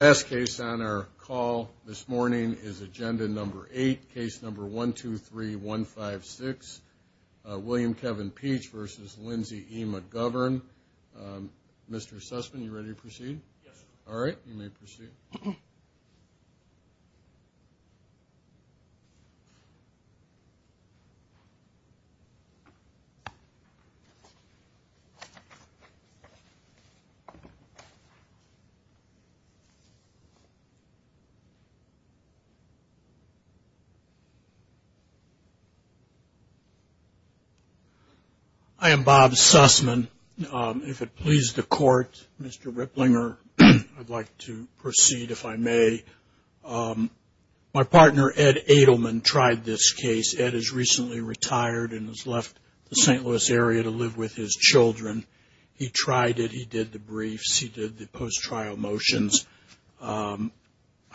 S case on our call this morning is agenda number eight case number 1 2 3 1 5 6 William Kevin peach versus Lindsey McGovern Mr. Sussman, you ready to proceed? Alright, you may proceed I am Bob Sussman. If it pleases the court, Mr. Ripplinger, I'd like to proceed if I may. My partner Ed Adelman tried this case. Ed is recently retired and has left the St. Louis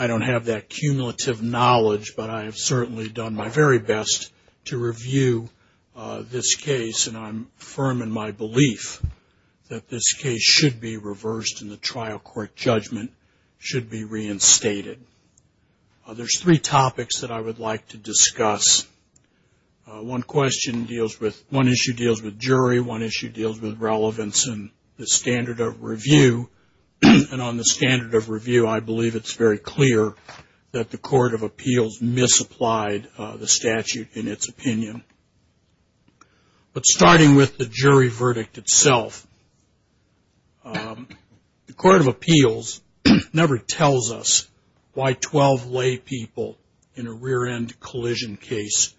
I don't have that cumulative knowledge, but I have certainly done my very best to review this case and I'm firm in my belief that this case should be reversed and the trial court judgment should be reinstated. There's three topics that I would like to discuss. One issue deals with jury, one issue deals with relevance and the standard of review, and on the standard of review I believe it's very clear that the court of appeals misapplied the statute in its opinion. But starting with the jury verdict itself, the court of appeals never tells us why 12 lay people in a rear end collision case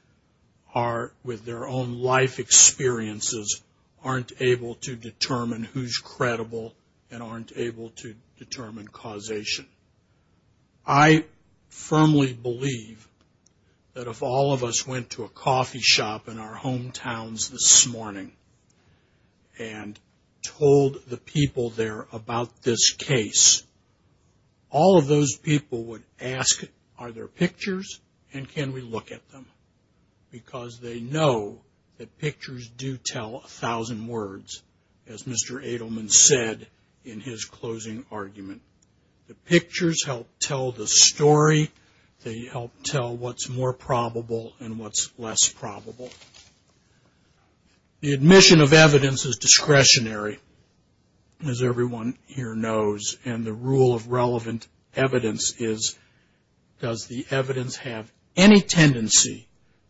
are with their own life experiences aren't able to determine who's credible and aren't able to determine causation. I firmly believe that if all of us went to a coffee shop in our hometowns this morning and told the people there about this case, all of those people would ask are there pictures and can we look at them because they know that pictures do tell a thousand words as Mr. Edelman said in his closing argument. The pictures help tell the story, they help tell what's more probable and what's less probable. The admission of evidence is discretionary as everyone here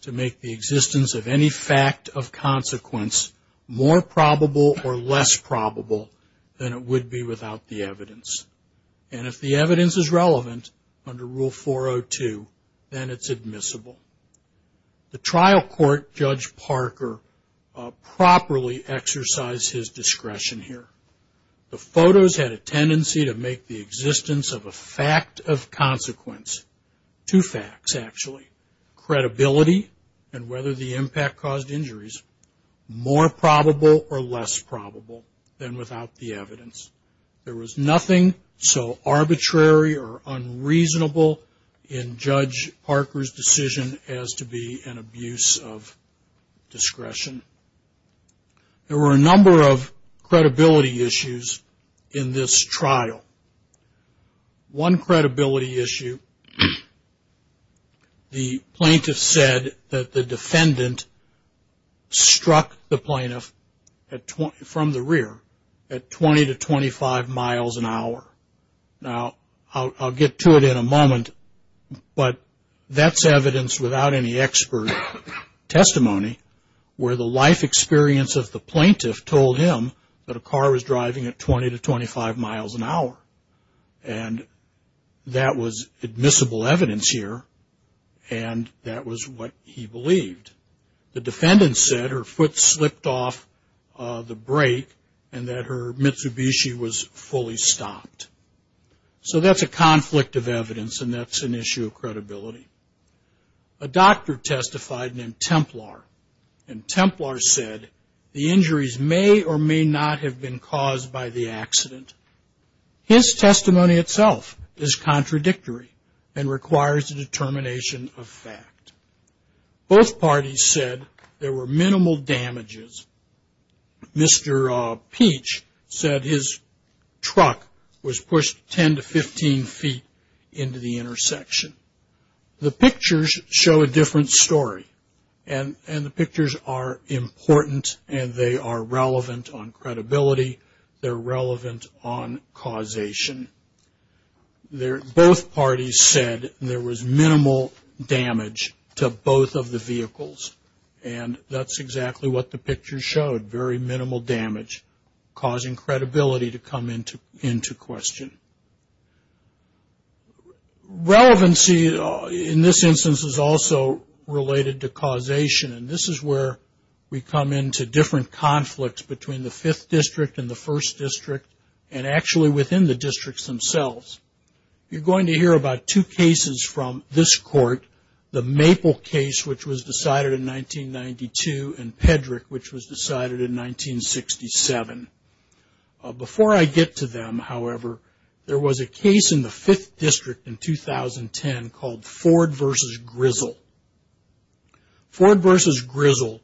to make the existence of any fact of consequence more probable or less probable than it would be without the evidence. And if the evidence is relevant under Rule 402 then it's admissible. The trial court, Judge Parker, properly exercised his discretion here. The photos had a tendency to make the existence of a fact of consequence, two facts actually, credibility and whether the impact caused injuries more probable or less probable than without the evidence. There was nothing so arbitrary or unreasonable in Judge Parker's decision as to be an abuse of discretion. There were a number of credibility issues in this trial. One credibility issue, the plaintiff said that the defendant struck the plaintiff from the rear at 20 to 25 miles an hour. Now I'll get to it in a moment but that's evidence without any expert testimony where the life experience of the plaintiff told him that a car was driving at 20 to 25 miles an hour and that was admissible evidence here and that was what he believed. The defendant said her foot slipped off the brake and that her Mitsubishi was fully stopped. So that's a conflict of evidence and that's an issue of credibility. A doctor testified named Templar and Templar said the injuries may or may not have been caused by the accident. His testimony itself is contradictory and requires a determination of fact. Both parties said there were minimal damages. Mr. Peach said his truck was pushed 10 to 15 feet into the intersection. The pictures show a different story and the pictures are important and they are relevant on credibility. They're relevant on causation. Both parties said there was minimal damage to both of the vehicles and that's exactly what the picture showed. Very minimal damage causing credibility to come into question. Relevancy in this instance is also related to causation and this is where we come into different conflicts between the Fifth District and the First District and actually within the districts themselves. You're going to hear about two cases from this court, the Maple case which was decided in 1992 and Pedrick which was decided in 1967. Before I get to them, however, there was a case in the Fifth District in 2010 called Ford v. Grizzle. Ford v. Grizzle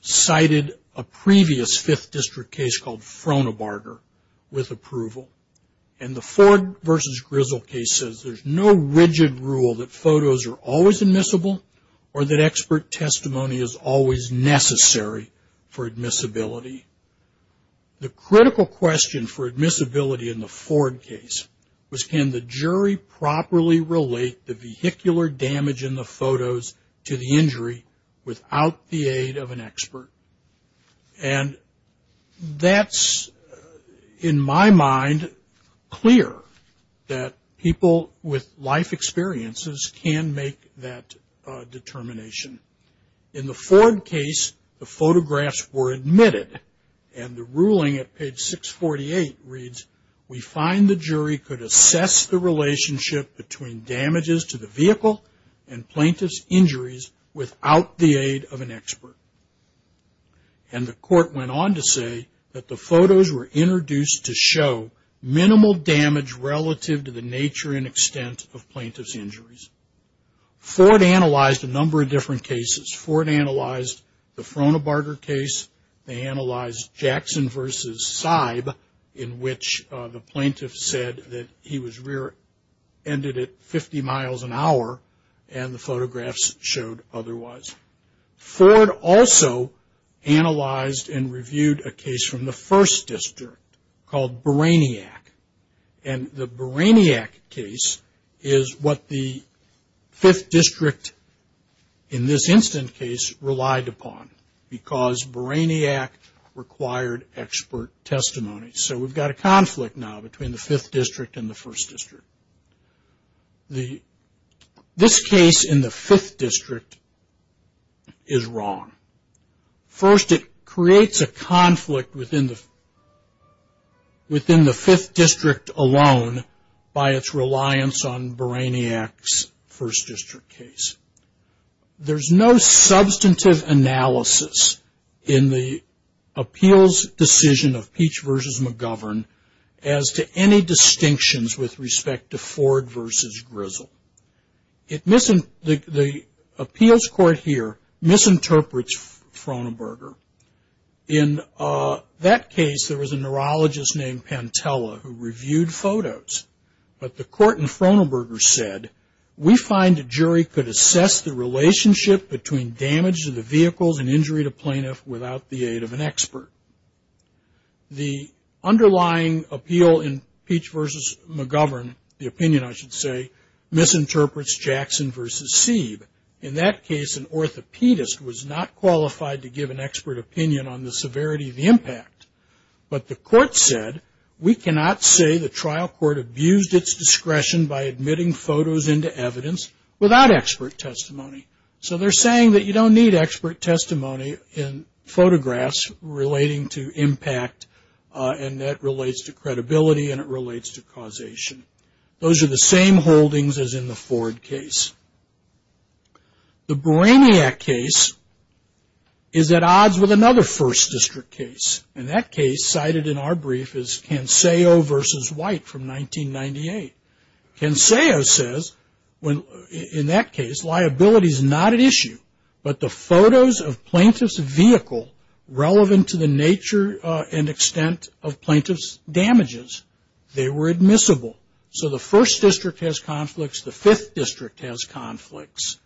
cited a previous Fifth District case called Frohnebarger with approval and the Ford v. Grizzle case says there's no rigid rule that photos are always admissible or that expert testimony is always necessary for admissibility. The critical question for admissibility in the Ford case was can the jury properly relate the vehicular damage in the photos to the injury without the aid of an expert? And that's, in my mind, clear that people with life experiences can make that determination. In the Ford case, the photographs were admitted and the ruling at 648 reads, we find the jury could assess the relationship between damages to the vehicle and plaintiff's injuries without the aid of an expert. And the court went on to say that the photos were introduced to show minimal damage relative to the nature and extent of plaintiff's injuries. Ford analyzed a number of different cases. Ford analyzed the Frohnebarger case. They analyzed Jackson v. Seib in which the plaintiff said that he was rear-ended at 50 miles an hour and the photographs showed otherwise. Ford also analyzed and reviewed a case from the 1st District called Baraniak. And the Baraniak case is what the 5th District, in this instant case, relied upon because Baraniak required expert testimony. So we've got a conflict now between the 5th District and the 1st District. This case in the 5th District is wrong. First, it creates a conflict within the 5th District alone by its reliance on Baraniak's 1st District case. There's no substantive analysis in the appeals decision of Peach v. McGovern as to any distinctions with respect to Ford v. Grizzle. The appeals court here misinterprets Frohnebarger. In that case, there was a neurologist named Pantella who reviewed photos. But the court in Frohnebarger said, we find a jury could assess the relationship between damage to the vehicles and injury to plaintiff without the aid of an expert. The underlying appeal in McGovern, the opinion I should say, misinterprets Jackson v. Sieb. In that case, an orthopedist was not qualified to give an expert opinion on the severity of the impact. But the court said, we cannot say the trial court abused its discretion by admitting photos into evidence without expert testimony. So they're saying that you don't need expert testimony in photographs relating to impact and that relates to credibility and it relates to causation. Those are the same holdings as in the Ford case. The Baraniak case is at odds with another 1st District case. And that case cited in our brief is Canseo v. White from 1998. Canseo says, in that case, liability is not at issue, but the photos of plaintiff's vehicle relevant to the nature and extent of plaintiff's damages, they were admissible. So the 1st District has conflicts, the 5th District has conflicts.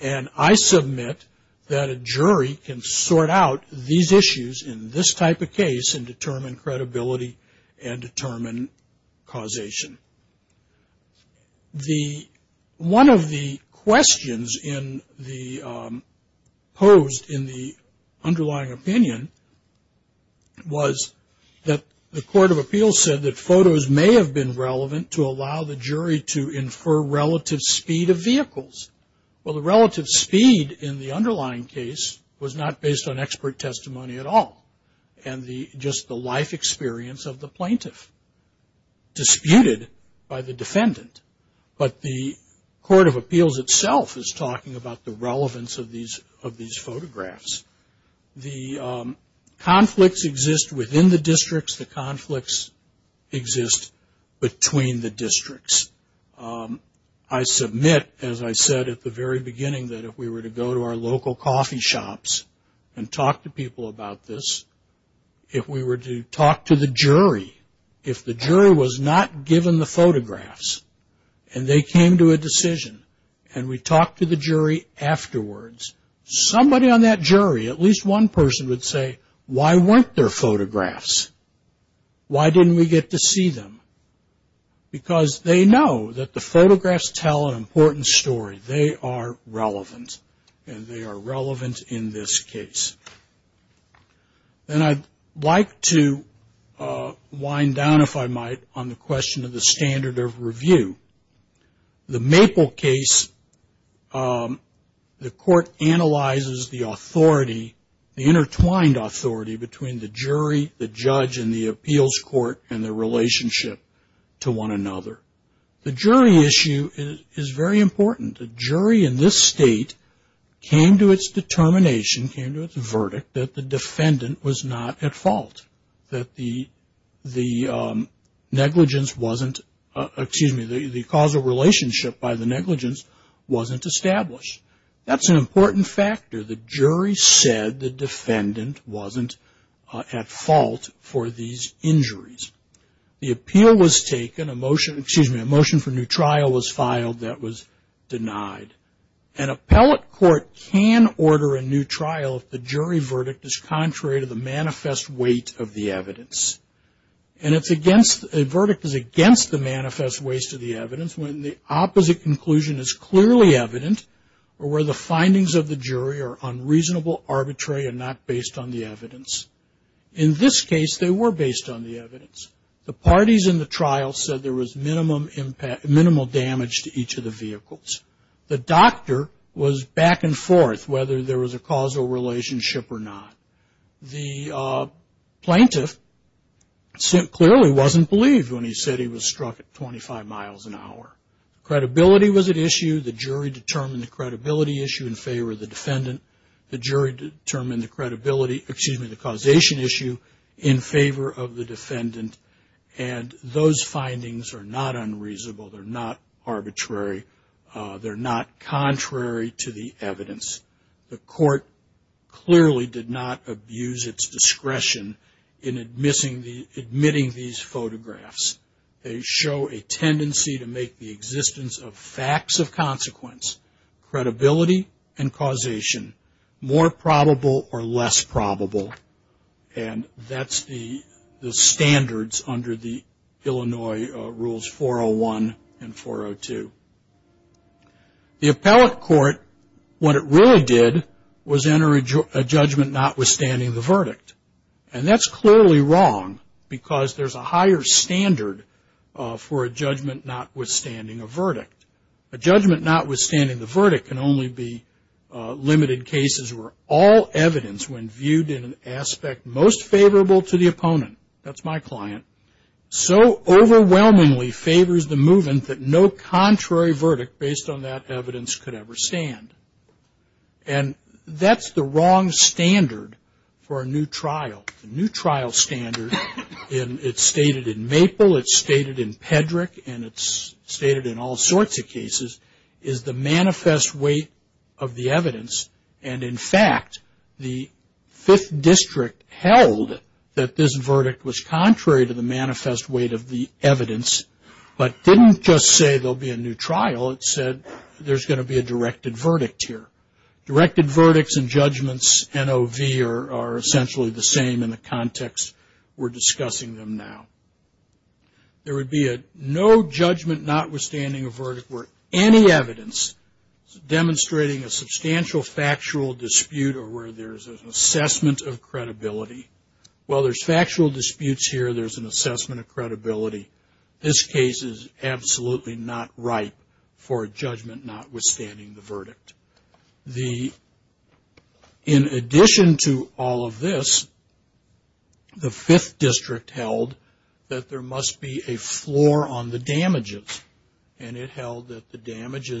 And I submit that a jury can sort out these issues in this type of case and determine credibility and determine causation. One of the questions posed in the underlying opinion was that the Court of Appeals said that photos may have been relevant to allow the jury to infer relative speed of vehicles. Well, the relative speed in the underlying case was not based on expert testimony at all. And just the life experience of the plaintiff disputed by the defendant. But the Court of Appeals itself is talking about the relevance of these photographs. The conflicts exist within the districts, the conflicts exist between the districts. I submit, as I said at the very beginning, that if we were to go to our local coffee shops and talk to people about this, if we were to talk to the jury, if the jury was not given the at least one person would say, why weren't there photographs? Why didn't we get to see them? Because they know that the photographs tell an important story. They are relevant and they are relevant in this case. And I'd like to wind down, if I might, on the question of the standard of review. The Maple case, the court analyzes the authority, the intertwined authority between the jury, the judge, and the appeals court and their relationship to one another. The jury issue is very important. The jury in this state came to its determination, came to its verdict, that the defendant was not at fault. That the negligence wasn't, excuse me, the causal relationship by the negligence wasn't established. That's an important factor. The jury said the defendant wasn't at fault for these injuries. The appeal was taken, a motion, excuse me, a motion for new trial was filed that was denied. An appellate court can order a new trial if the jury verdict is contrary to the manifest weight of the evidence. And a verdict is against the manifest weight of the evidence when the opposite conclusion is clearly evident or where the findings of the jury are unreasonable, arbitrary, and not based on the evidence. In this case, they were based on the evidence. The parties in the trial said there was minimal damage to each of the vehicles. The doctor was back and forth whether there was a causal relationship or not. The plaintiff clearly wasn't believed when he said he was struck at 25 miles an hour. Credibility was at issue. The jury determined the credibility issue in favor of the defendant. The jury determined the credibility, excuse me, the evidence. The court clearly did not abuse its discretion in admitting these photographs. They show a tendency to make the existence of facts of consequence, credibility, and causation more probable or less probable. And that's the standards under the Illinois Rules 401 and 402. The appellate court, what it really did was enter a judgment notwithstanding the verdict. And that's clearly wrong because there's a higher standard for a judgment notwithstanding a verdict. A judgment notwithstanding the verdict can only be limited cases where all evidence when viewed in an aspect most favorable to the opponent, that's my client, so overwhelmingly favors the movement that no contrary verdict based on that evidence could ever stand. And that's the wrong standard for a new trial. A new trial standard, it's stated in Maple, it's stated in Pedrick, and it's stated in all sorts of cases, is the manifest weight of the evidence. And in fact, the Fifth District held that this verdict was contrary to the manifest weight of the evidence, but didn't just say there'll be a new trial. It said there's going to be a new trial. Directed verdicts and judgments, NOV, are essentially the same in the context we're discussing them now. There would be a no judgment notwithstanding a verdict where any evidence demonstrating a substantial factual dispute or where there's an assessment of credibility. While there's factual disputes here, there's an assessment for a judgment notwithstanding the verdict. In addition to all of this, the Fifth District held that there must be a floor on the damages. And it held that the sanctity,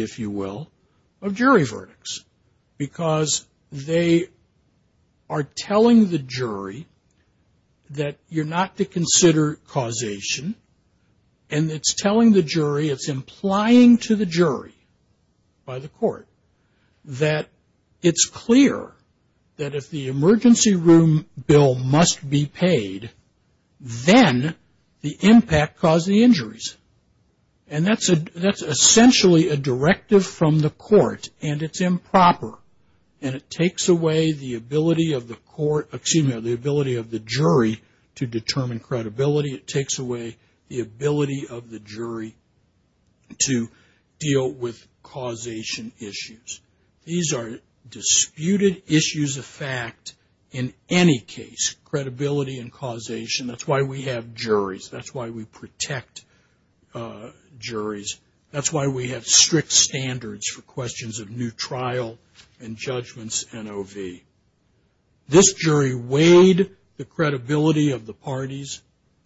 if you will, of jury verdicts. Because they are telling the jury that you're not to consider causation, and it's telling the jury, it's implying to the jury by the court that it's clear that if the And that's essentially a directive from the court, and it's improper. And it takes away the ability of the jury to determine credibility. It takes away the ability of the jury to deal with causation That's why we have strict standards for questions of new trial and judgments, NOV. This jury weighed the credibility of the parties.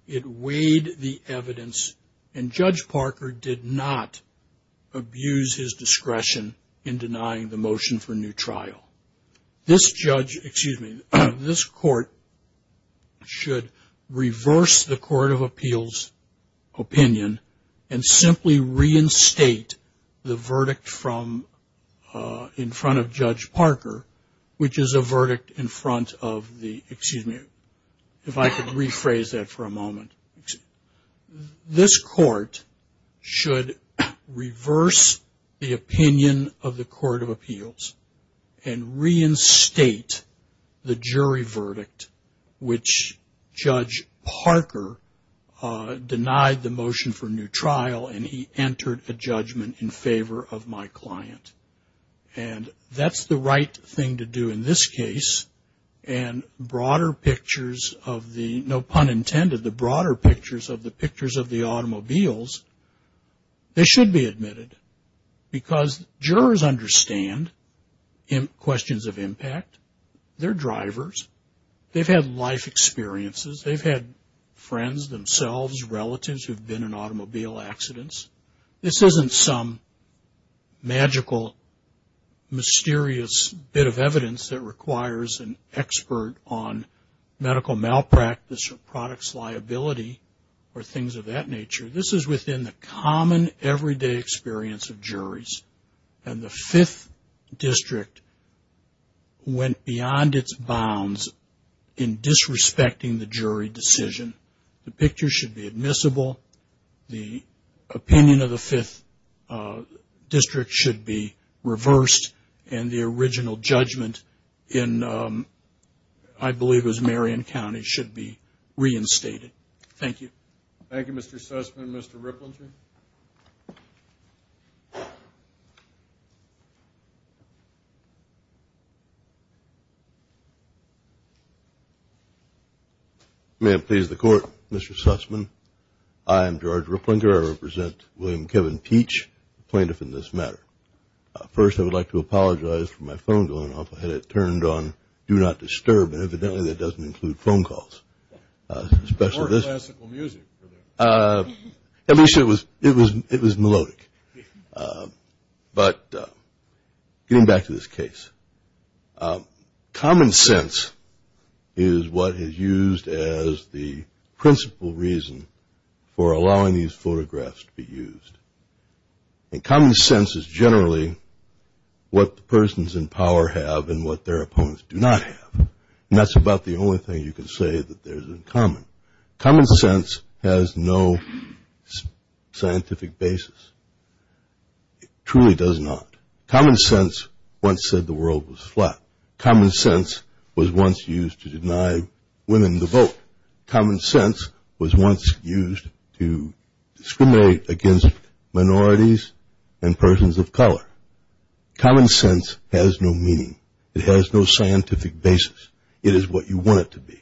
It weighed the evidence. And Judge Parker did not abuse his discretion in denying the motion for new trial. This court should reverse the Court of Appeals opinion and simply reinstate the verdict in front of Judge Parker, which is a verdict in front of the, excuse me, if I could rephrase that for a moment. This court should reverse the opinion of the Court of Appeals and reinstate the jury verdict, which Judge Parker denied the motion for new trial, and he entered a judgment in favor of my client. And that's the right thing to do in this case. And broader pictures of the, no pun intended, the broader pictures of the pictures of the automobiles, they should be admitted. Because jurors understand questions of impact. They're drivers. They've had life experiences. They've had friends, themselves, relatives who've been in automobile accidents. This isn't some magical, mysterious bit of evidence that requires an expert on medical malpractice or products liability or things of that nature. This is within the common, everyday experience of juries. And the Fifth District went beyond its bounds in disrespecting the jury decision. The picture should be admissible. The opinion of the Fifth District should be reversed, and the original judgment in, I believe it was Marion County, should be reinstated. Thank you. Thank you, Mr. Sussman. Mr. Ripplinger? May it please the Court, Mr. Sussman. I am George Ripplinger. I represent William Kevin Peach, plaintiff in this matter. First, I would like to apologize for my phone going off. I had it turned on, do not disturb, and evidently that doesn't include phone calls. Or classical music. It was melodic. But getting back to this case, common sense is what is used as the principal reason for allowing these photographs to be used. And common sense is generally what the persons in power have and what their opponents do not have. And that's about the only thing you can say that there's in common. Common sense has no scientific basis. It truly does not. Common sense once said the world was flat. Common sense was once used to deny women the vote. Common sense was once used to discriminate against minorities and persons of color. Common sense has no meaning. It has no scientific basis. It is what you want it to be.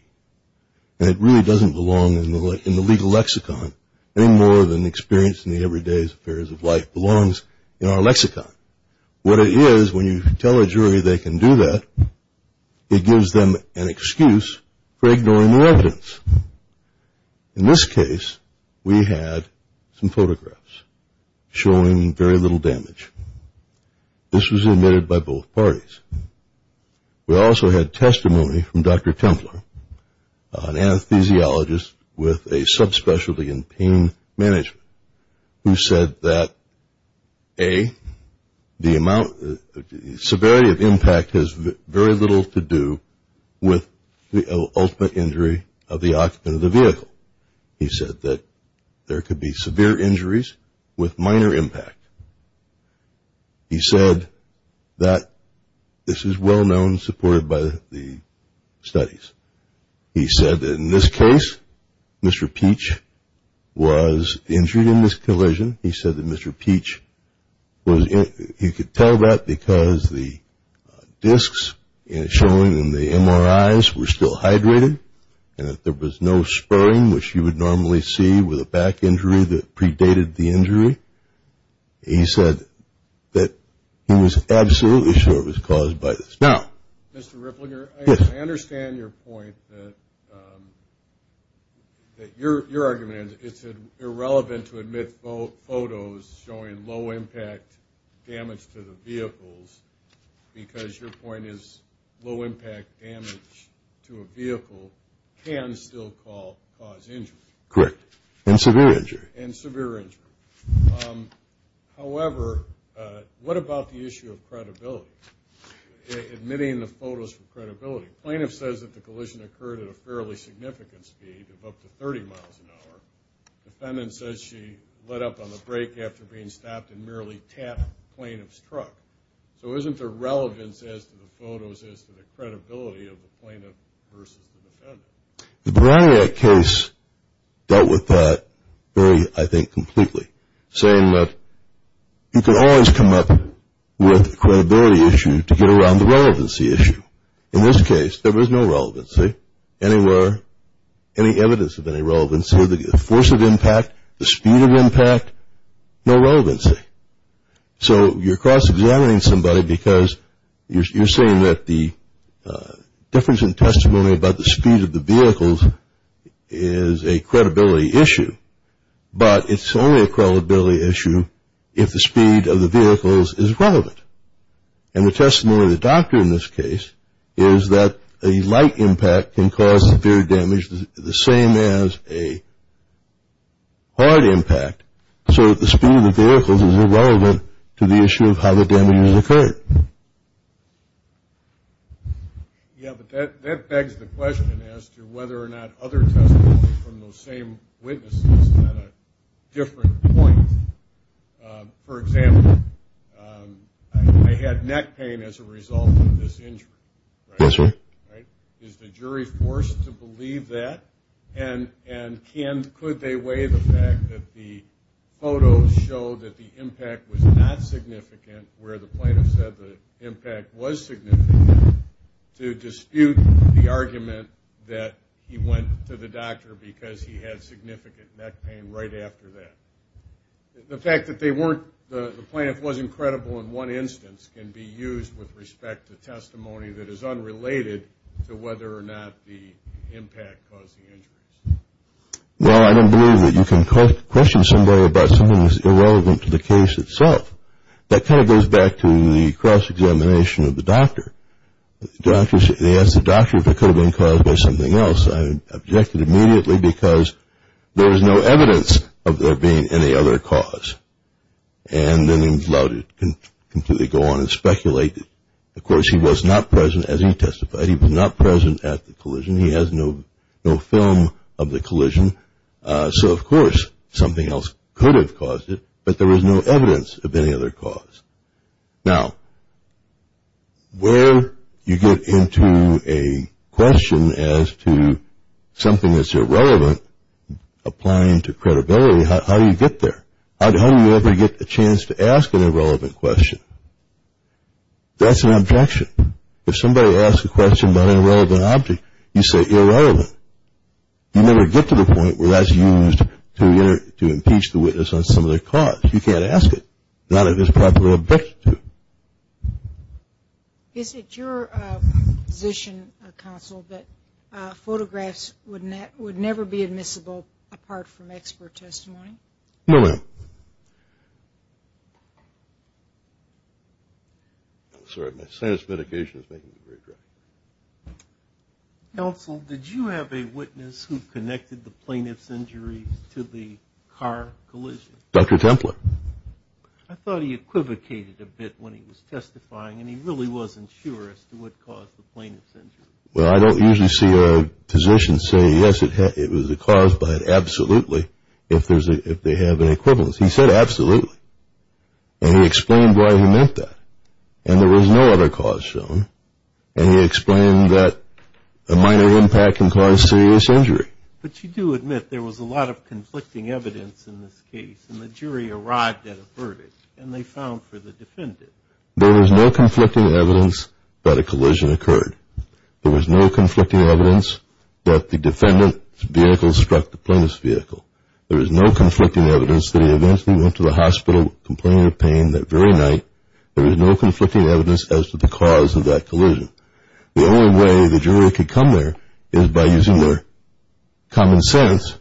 And it really doesn't belong in the legal lexicon any more than experience in the everyday affairs of life belongs in our lexicon. What it is when you tell a jury they can do that, it gives them an excuse for ignoring the evidence. In this case, we had some photographs showing very little damage. This was admitted by both parties. We also had testimony from Dr. Templer, an anesthesiologist with a subspecialty in pain management, who said that, A, the amount, the severity of impact has very little to do with the ultimate injury of the occupant of the vehicle. He said that there could be severe injuries with minor impact. He said that this is well known, supported by the studies. He said that in this case, Mr. Peach was injured in this collision. He said that Mr. Peach was injured. He could tell that because the discs showing in the MRIs were still hydrated and that there was no spurring, which you would normally see with a back injury that predated the injury. He said that he was absolutely sure it was caused by this. Now, Mr. Ripplinger, I understand your point that your argument is that it's irrelevant to admit photos showing low impact damage to the vehicles because your point is low impact damage to a vehicle can still cause injury. Correct. And severe injury. However, what about the issue of credibility, admitting the photos for credibility? Plaintiff says that the collision occurred at a fairly significant speed of up to 30 miles an hour. Defendant says she let up on the brake after being stopped and merely tapped the plaintiff's truck. So isn't there relevance as to the photos as to the credibility of the plaintiff versus the defendant? The Baraniak case dealt with that very, I think, completely, saying that you can always come up with a credibility issue to get around the relevancy issue. In this case, there was no relevancy anywhere, any evidence of any relevancy. The force of impact, the speed of impact, no relevancy. So you're cross-examining somebody because you're saying that the difference in testimony about the speed of the vehicles is a credibility issue, but it's only a credibility issue if the speed of the vehicles is relevant. And the testimony of the doctor in this case is that a light impact can cause severe damage the same as a hard impact. So the speed of the vehicles is irrelevant to the issue of how the damage occurred. Yeah, but that begs the question as to whether or not other testimony from those same witnesses is at a different point. For example, I had neck pain as a result of this injury. Is the jury forced to believe that? And could they weigh the fact that the photos show that the impact was not significant where the plaintiff said the impact was significant to dispute the argument that he went to the doctor because he had significant neck pain right after that? The fact that the plaintiff wasn't credible in one instance can be used with respect to testimony that is unrelated to whether or not the impact caused the injuries. Well, I don't believe that you can question somebody about something that's irrelevant to the case itself. That kind of goes back to the cross-examination of the doctor. They asked the doctor if it could have been caused by something else. I objected immediately because there is no evidence of there being any other cause. And then he was allowed to completely go on and speculate. Of course, he was not present as he testified. He was not present at the collision. He has no film of the collision. So of course something else could have caused it, but there was no evidence of any other cause. Now, where you get into a question as to something that's irrelevant, applying to credibility, how do you get there? How do you ever get a chance to ask an irrelevant question? That's an objection. If somebody asks a question about an irrelevant object, you say irrelevant. You never get to the point where that's used to impeach the witness on some other cause. You can't ask it. Not if it's properly objected to. Is it your position, counsel, that photographs would never be admissible apart from expert testimony? No, ma'am. Sorry, my sinus medication is making me regret it. Counsel, did you have a witness who connected the plaintiff's injury to the car collision? Dr. Templer. I thought he equivocated a bit when he was testifying, and he really wasn't sure as to what caused the plaintiff's injury. Well, I don't usually see a physician say, yes, it was a cause, but absolutely, if they have an equivalence. He said absolutely, and he explained why he meant that. And there was no other cause shown, and he explained that a minor impact can cause serious injury. But you do admit there was a lot of conflicting evidence in this case, and the jury arrived at a verdict, and they found for the defendant. There was no conflicting evidence that a collision occurred. There was no conflicting evidence that the defendant's vehicle struck the plaintiff's vehicle. There was no conflicting evidence that he eventually went to the hospital complaining of pain that very night. There was no conflicting evidence as to the cause of that collision. The only way the jury could come there is by using their common sense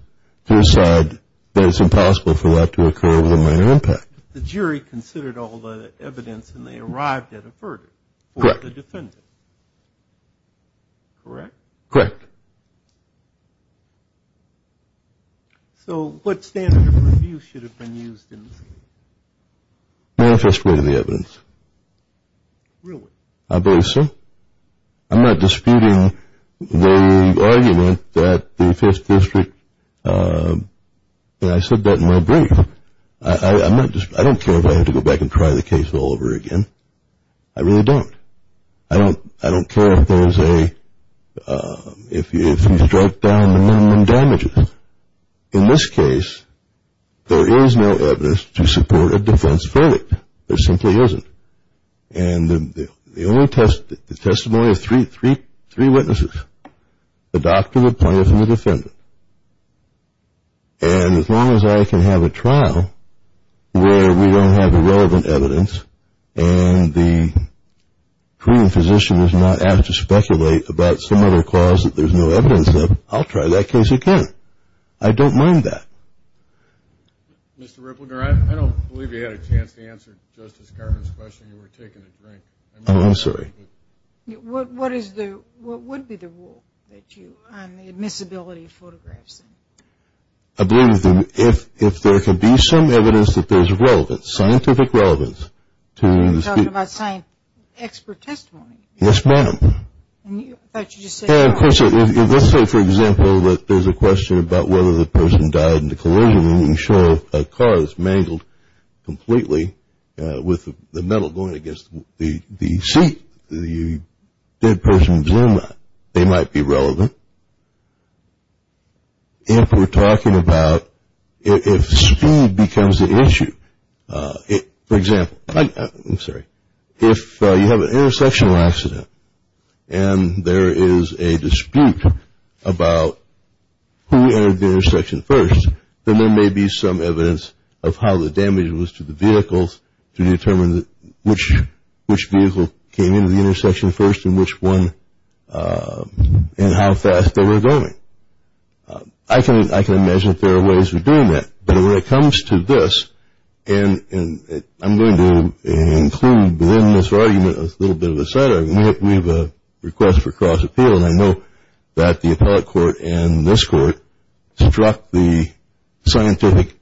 to decide that it's impossible for that to occur with a minor impact. But the jury considered all the evidence, and they arrived at a verdict for the defendant, correct? Correct. So what standard of review should have been used in this case? Manifest way of the evidence. Really? I believe so. I'm not disputing the argument that the Fifth District, and I said that in my brief. I don't care if I have to go back and try the case all over again. I really don't. I don't care if there's a, if you strike down the minimum damages. In this case, there is no evidence to support a defense verdict. There simply isn't. And the only testimony of three witnesses, the doctor, the plaintiff, and the defendant. And as long as I can have a trial where we don't have the relevant evidence and the treating physician is not asked to speculate about some other cause that there's no evidence of, I'll try that case again. I don't mind that. Mr. Ripple, I don't believe you had a chance to answer Justice Garvin's question. You were taking a drink. I'm sorry. What is the, what would be the rule that you, on the admissibility of photographs? I believe that if there could be some evidence that there's relevant, scientific relevance. You're talking about saying expert testimony. Yes, ma'am. I thought you just said that. And, of course, if let's say, for example, that there's a question about whether the person died in the collision and you show a car that's mangled completely with the metal going against the seat, the dead person's limber, they might be relevant. If we're talking about, if speed becomes an issue, for example, I'm sorry, if you have an intersectional accident and there is a dispute about who entered the intersection first, then there may be some evidence of how the damage was to the vehicles to determine which vehicle came into the intersection first and which one and how fast they were going. I can imagine that there are ways of doing that. But when it comes to this, and I'm going to include within this argument a little bit of a side argument. We have a request for cross-appeal, and I know that the appellate court and this court struck the scientific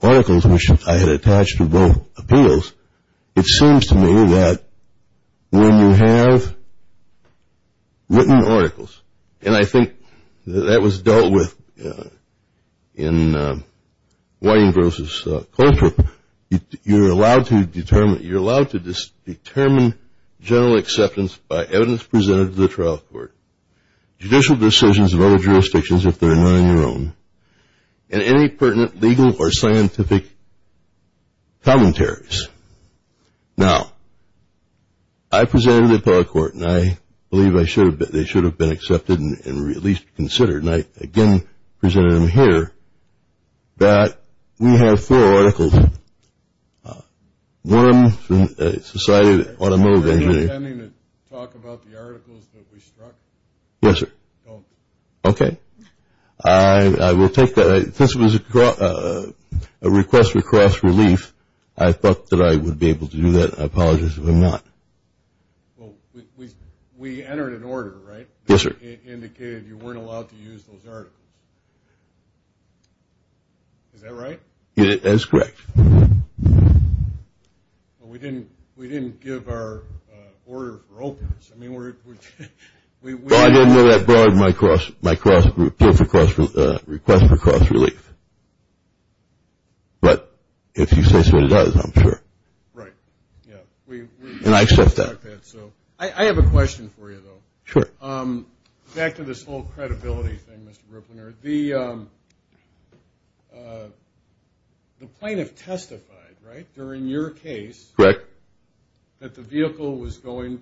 articles, which I had attached to both appeals. It seems to me that when you have written articles, and I think that that was dealt with in Wayne Gross' culture, you're allowed to determine general acceptance by evidence presented to the trial court, judicial decisions of other jurisdictions if they're not on your own, and any pertinent legal or scientific commentaries. Now, I presented to the appellate court, and I believe they should have been accepted and at least considered, and I again presented them here that we have four articles. One from Society of Automobile Engineering. Are you intending to talk about the articles that we struck? Yes, sir. Don't. Okay. I will take that. Since it was a request for cross-relief, I thought that I would be able to do that. I apologize if I'm not. Well, we entered an order, right? Yes, sir. It indicated you weren't allowed to use those articles. Is that right? That's correct. Well, we didn't give our order for openers. I mean, we're – Well, I didn't know that broad my request for cross-relief. But if you say so, it does, I'm sure. Right. Yeah. And I accept that. I have a question for you, though. Sure. Back to this whole credibility thing, Mr. Ripplinger. The plaintiff testified, right, during your case. Correct. That the vehicle was going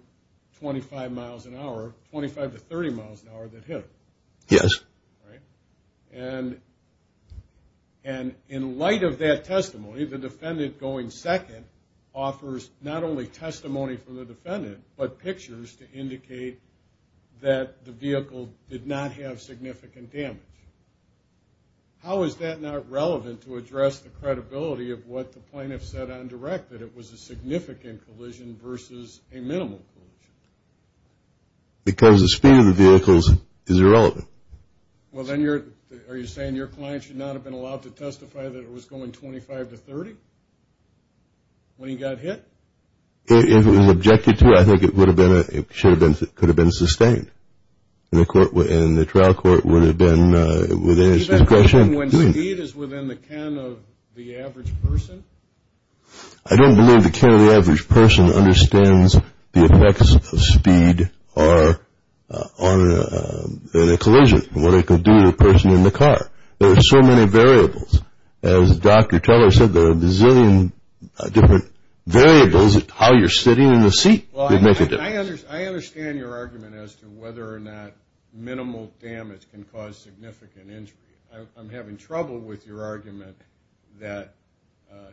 25 miles an hour, 25 to 30 miles an hour, that hit her. Yes. Right? And in light of that testimony, the defendant going second offers not only testimony from the defendant but pictures to indicate that the vehicle did not have significant damage. How is that not relevant to address the credibility of what the plaintiff said on direct, that it was a significant collision versus a minimal collision? Because the speed of the vehicle is irrelevant. Well, then are you saying your client should not have been allowed to testify that it was going 25 to 30 when he got hit? If it was objected to, I think it would have been – it should have been – it could have been sustained. And the trial court would have been within its discretion. Do you think that's when speed is within the can of the average person? I don't believe the can of the average person understands the effects of speed on a collision, what it could do to a person in the car. There are so many variables. As Dr. Teller said, there are a zillion different variables of how you're sitting in the seat that make a difference. I understand your argument as to whether or not minimal damage can cause significant injury. I'm having trouble with your argument that –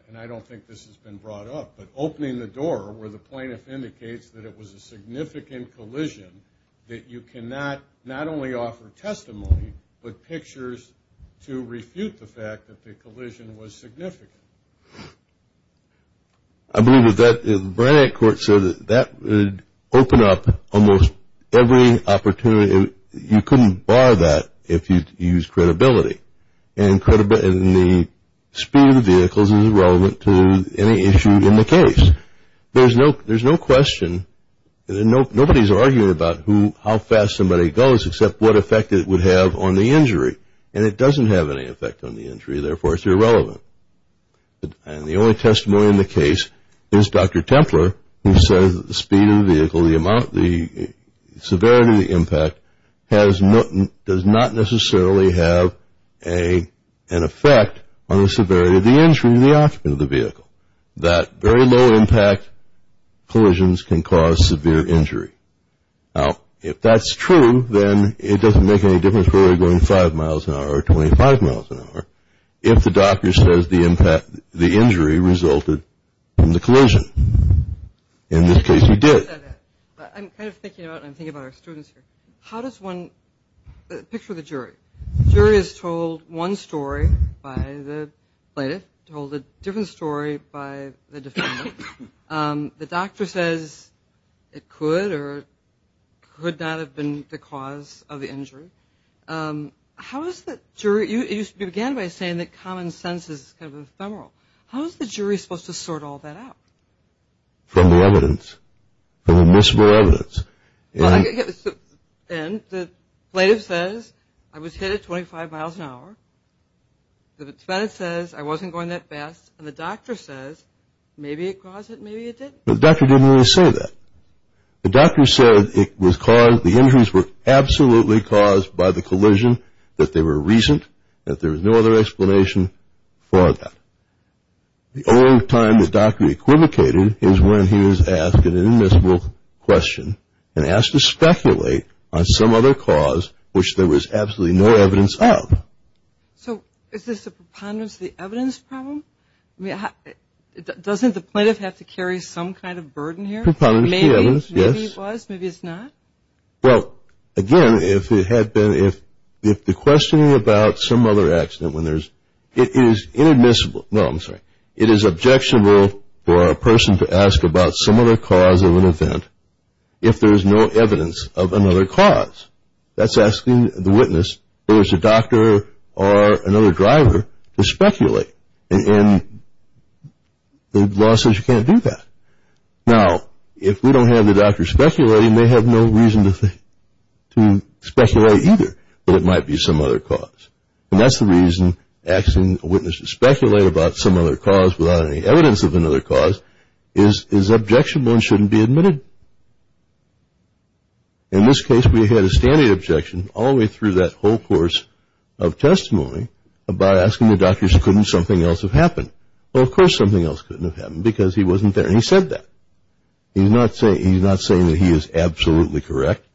and I don't think this has been brought up – but opening the door where the plaintiff indicates that it was a significant collision, that you cannot not only offer testimony, but pictures to refute the fact that the collision was significant. I believe that the Barnett court said that that would open up almost every opportunity. You couldn't bar that if you used credibility. And the speed of the vehicles is irrelevant to any issue in the case. There's no question – nobody's arguing about how fast somebody goes, except what effect it would have on the injury. And it doesn't have any effect on the injury, therefore it's irrelevant. And the only testimony in the case is Dr. Templer, who says that the speed of the vehicle, the amount – the severity of the impact does not necessarily have an effect on the severity of the injury to the occupant of the vehicle, that very low impact collisions can cause severe injury. Now, if that's true, then it doesn't make any difference whether you're going five miles an hour or 25 miles an hour if the doctor says the injury resulted from the collision. In this case, we did. I'm kind of thinking about – I'm thinking about our students here. How does one – picture the jury. The jury is told one story by the plaintiff, told a different story by the defendant. The doctor says it could or could not have been the cause of the injury. How is the jury – you began by saying that common sense is kind of ephemeral. How is the jury supposed to sort all that out? From the evidence, from admissible evidence. And the plaintiff says, I was hit at 25 miles an hour. The defendant says, I wasn't going that fast. And the doctor says, maybe it caused it, maybe it didn't. The doctor didn't really say that. The doctor said it was caused – the injuries were absolutely caused by the collision, that they were recent, that there was no other explanation for that. The only time the doctor equivocated is when he was asked an admissible question and asked to speculate on some other cause which there was absolutely no evidence of. So is this a preponderance of the evidence problem? I mean, doesn't the plaintiff have to carry some kind of burden here? Preponderance of the evidence, yes. Maybe he was, maybe he's not. Well, again, if it had been – if the questioning about some other accident, when there's – it is inadmissible – no, I'm sorry. It is objectionable for a person to ask about some other cause of an event if there's no evidence of another cause. That's asking the witness, whether it's a doctor or another driver, to speculate. And the law says you can't do that. Now, if we don't have the doctor speculating, they have no reason to speculate either that it might be some other cause. And that's the reason asking a witness to speculate about some other cause without any evidence of another cause is objectionable and shouldn't be admitted. In this case, we had a standard objection all the way through that whole course of testimony about asking the doctor, couldn't something else have happened? Well, of course something else couldn't have happened because he wasn't there. And he said that. He's not saying that he is absolutely correct.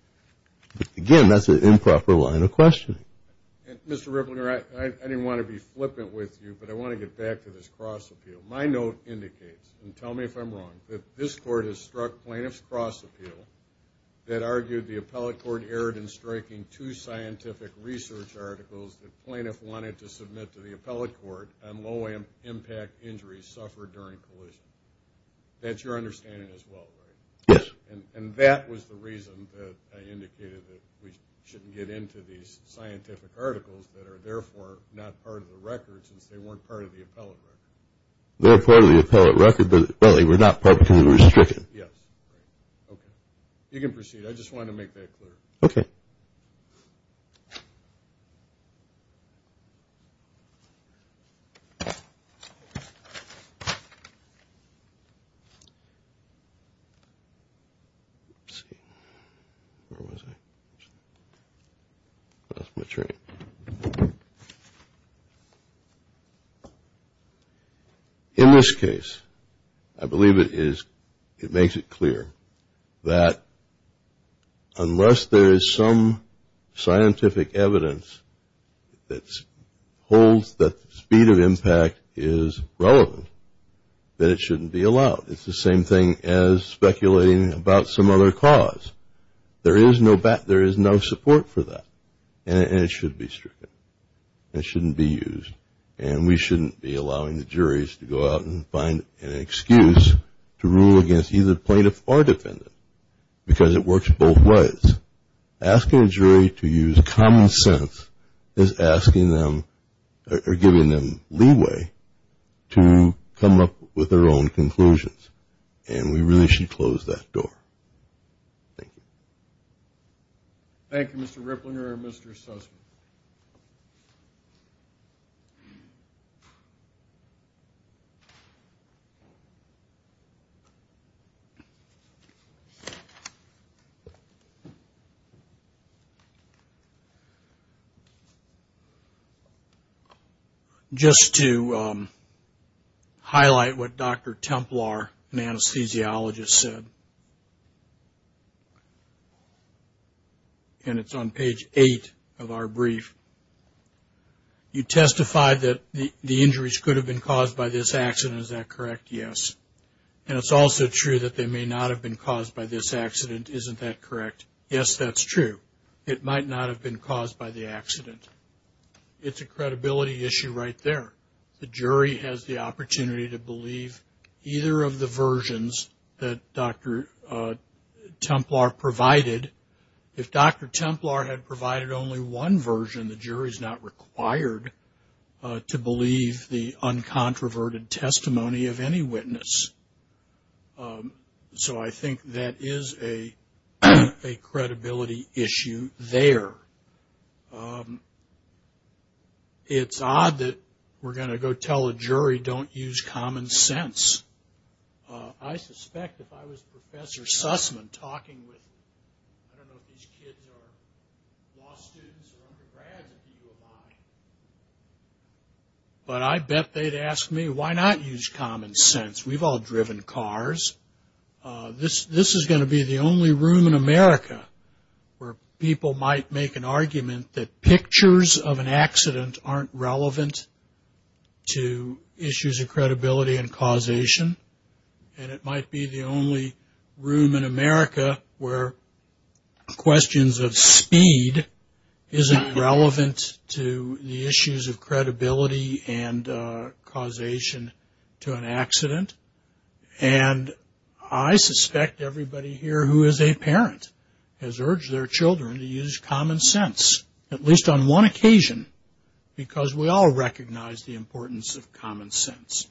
Again, that's an improper line of questioning. Mr. Ripplinger, I didn't want to be flippant with you, but I want to get back to this cross-appeal. My note indicates – and tell me if I'm wrong – that this Court has struck plaintiff's cross-appeal that argued the appellate court erred in striking two scientific research articles that plaintiff wanted to submit to the appellate court on low-impact injuries suffered during collision. That's your understanding as well, right? Yes. And that was the reason that I indicated that we shouldn't get into these scientific articles that are therefore not part of the record since they weren't part of the appellate record. They were part of the appellate record, but they were not publicly restricted. Yes. Okay. You can proceed. I just wanted to make that clear. Okay. Thank you. In this case, I believe it makes it clear that unless there is some scientific evidence that holds that the speed of impact is relevant, that it shouldn't be allowed. It's the same thing as speculating about some other cause. There is no support for that, and it should be stricken. It shouldn't be used, and we shouldn't be allowing the juries to go out and find an excuse to rule against either plaintiff or defendant because it works both ways. Asking a jury to use common sense is giving them leeway to come up with their own conclusions, and we really should close that door. Thank you. Thank you, Mr. Ripplinger and Mr. Sussman. Just to highlight what Dr. Templar, an anesthesiologist, said, and it's on page 8 of our brief, you testified that the injuries could have been caused by this accident. Is that correct? Yes. And it's also true that they may not have been caused by this accident. Isn't that correct? Yes, that's true. It might not have been caused by the accident. It's a credibility issue right there. The jury has the opportunity to believe either of the versions that Dr. Templar provided. And if Dr. Templar had provided only one version, the jury is not required to believe the uncontroverted testimony of any witness. So I think that is a credibility issue there. It's odd that we're going to go tell a jury, don't use common sense. I suspect if I was Professor Sussman talking with, I don't know if these kids are law students or undergrads, if you were mine, but I bet they'd ask me, why not use common sense? We've all driven cars. This is going to be the only room in America where people might make an argument that pictures of an accident aren't relevant to issues of credibility and causation. And it might be the only room in America where questions of speed isn't relevant to the issues of credibility and causation to an accident. And I suspect everybody here who is a parent has urged their children to use common sense, at least on one occasion, because we all recognize the importance of common sense.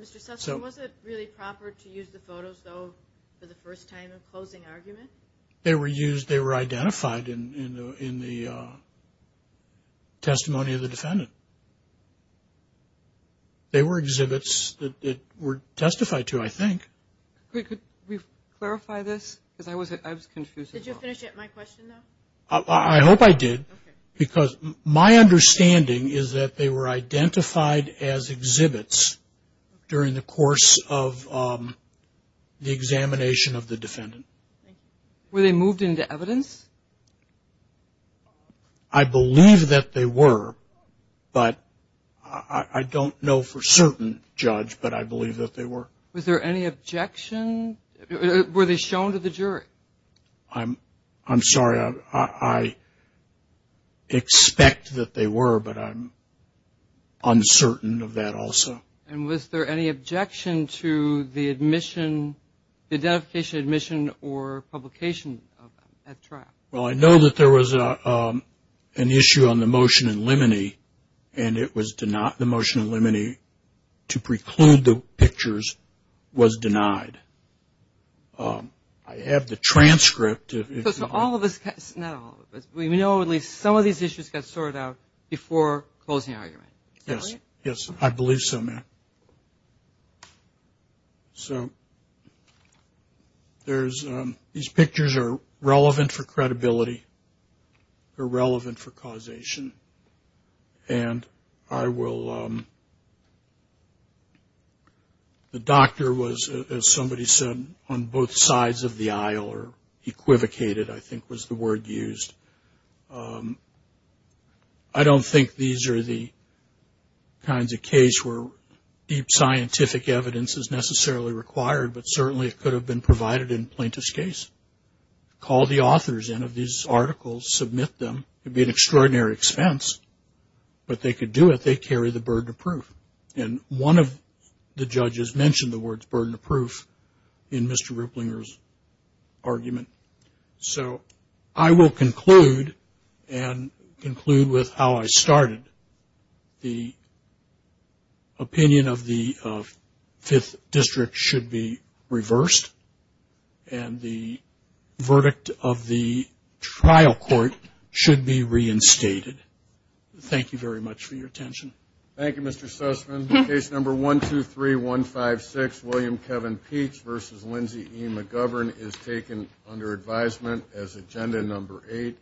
Mr. Sussman, was it really proper to use the photos, though, for the first time of closing argument? They were used, they were identified in the testimony of the defendant. They were exhibits that were testified to, I think. Could we clarify this? Because I was confused. Did you finish up my question, though? I hope I did. Okay. Because my understanding is that they were identified as exhibits during the course of the examination of the defendant. Were they moved into evidence? I believe that they were. But I don't know for certain, Judge, but I believe that they were. Was there any objection? Were they shown to the jury? I'm sorry. I expect that they were, but I'm uncertain of that also. And was there any objection to the admission, the identification, admission, or publication of them at trial? Well, I know that there was an issue on the motion in limine, and the motion in limine to preclude the pictures was denied. I have the transcript. So all of this, not all of this, we know at least some of these issues got sorted out before closing argument. Is that right? Yes, I believe so, ma'am. So there's – these pictures are relevant for credibility. They're relevant for causation. And I will – the doctor was, as somebody said, on both sides of the aisle or equivocated, I think was the word used. I don't think these are the kinds of case where deep scientific evidence is necessarily required, but certainly it could have been provided in Plaintiff's case. Call the authors in of these articles, submit them. It would be an extraordinary expense, but they could do it. They carry the burden of proof. And one of the judges mentioned the words burden of proof in Mr. Ripplinger's argument. So I will conclude and conclude with how I started. The opinion of the Fifth District should be reversed and the verdict of the trial court should be reinstated. Thank you very much for your attention. Thank you, Mr. Sussman. Case number 123156, William Kevin Peach v. Lindsay E. McGovern, is taken under advisement as agenda number eight.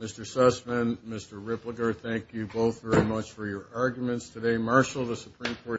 Mr. Sussman, Mr. Ripplinger, thank you both very much for your arguments today.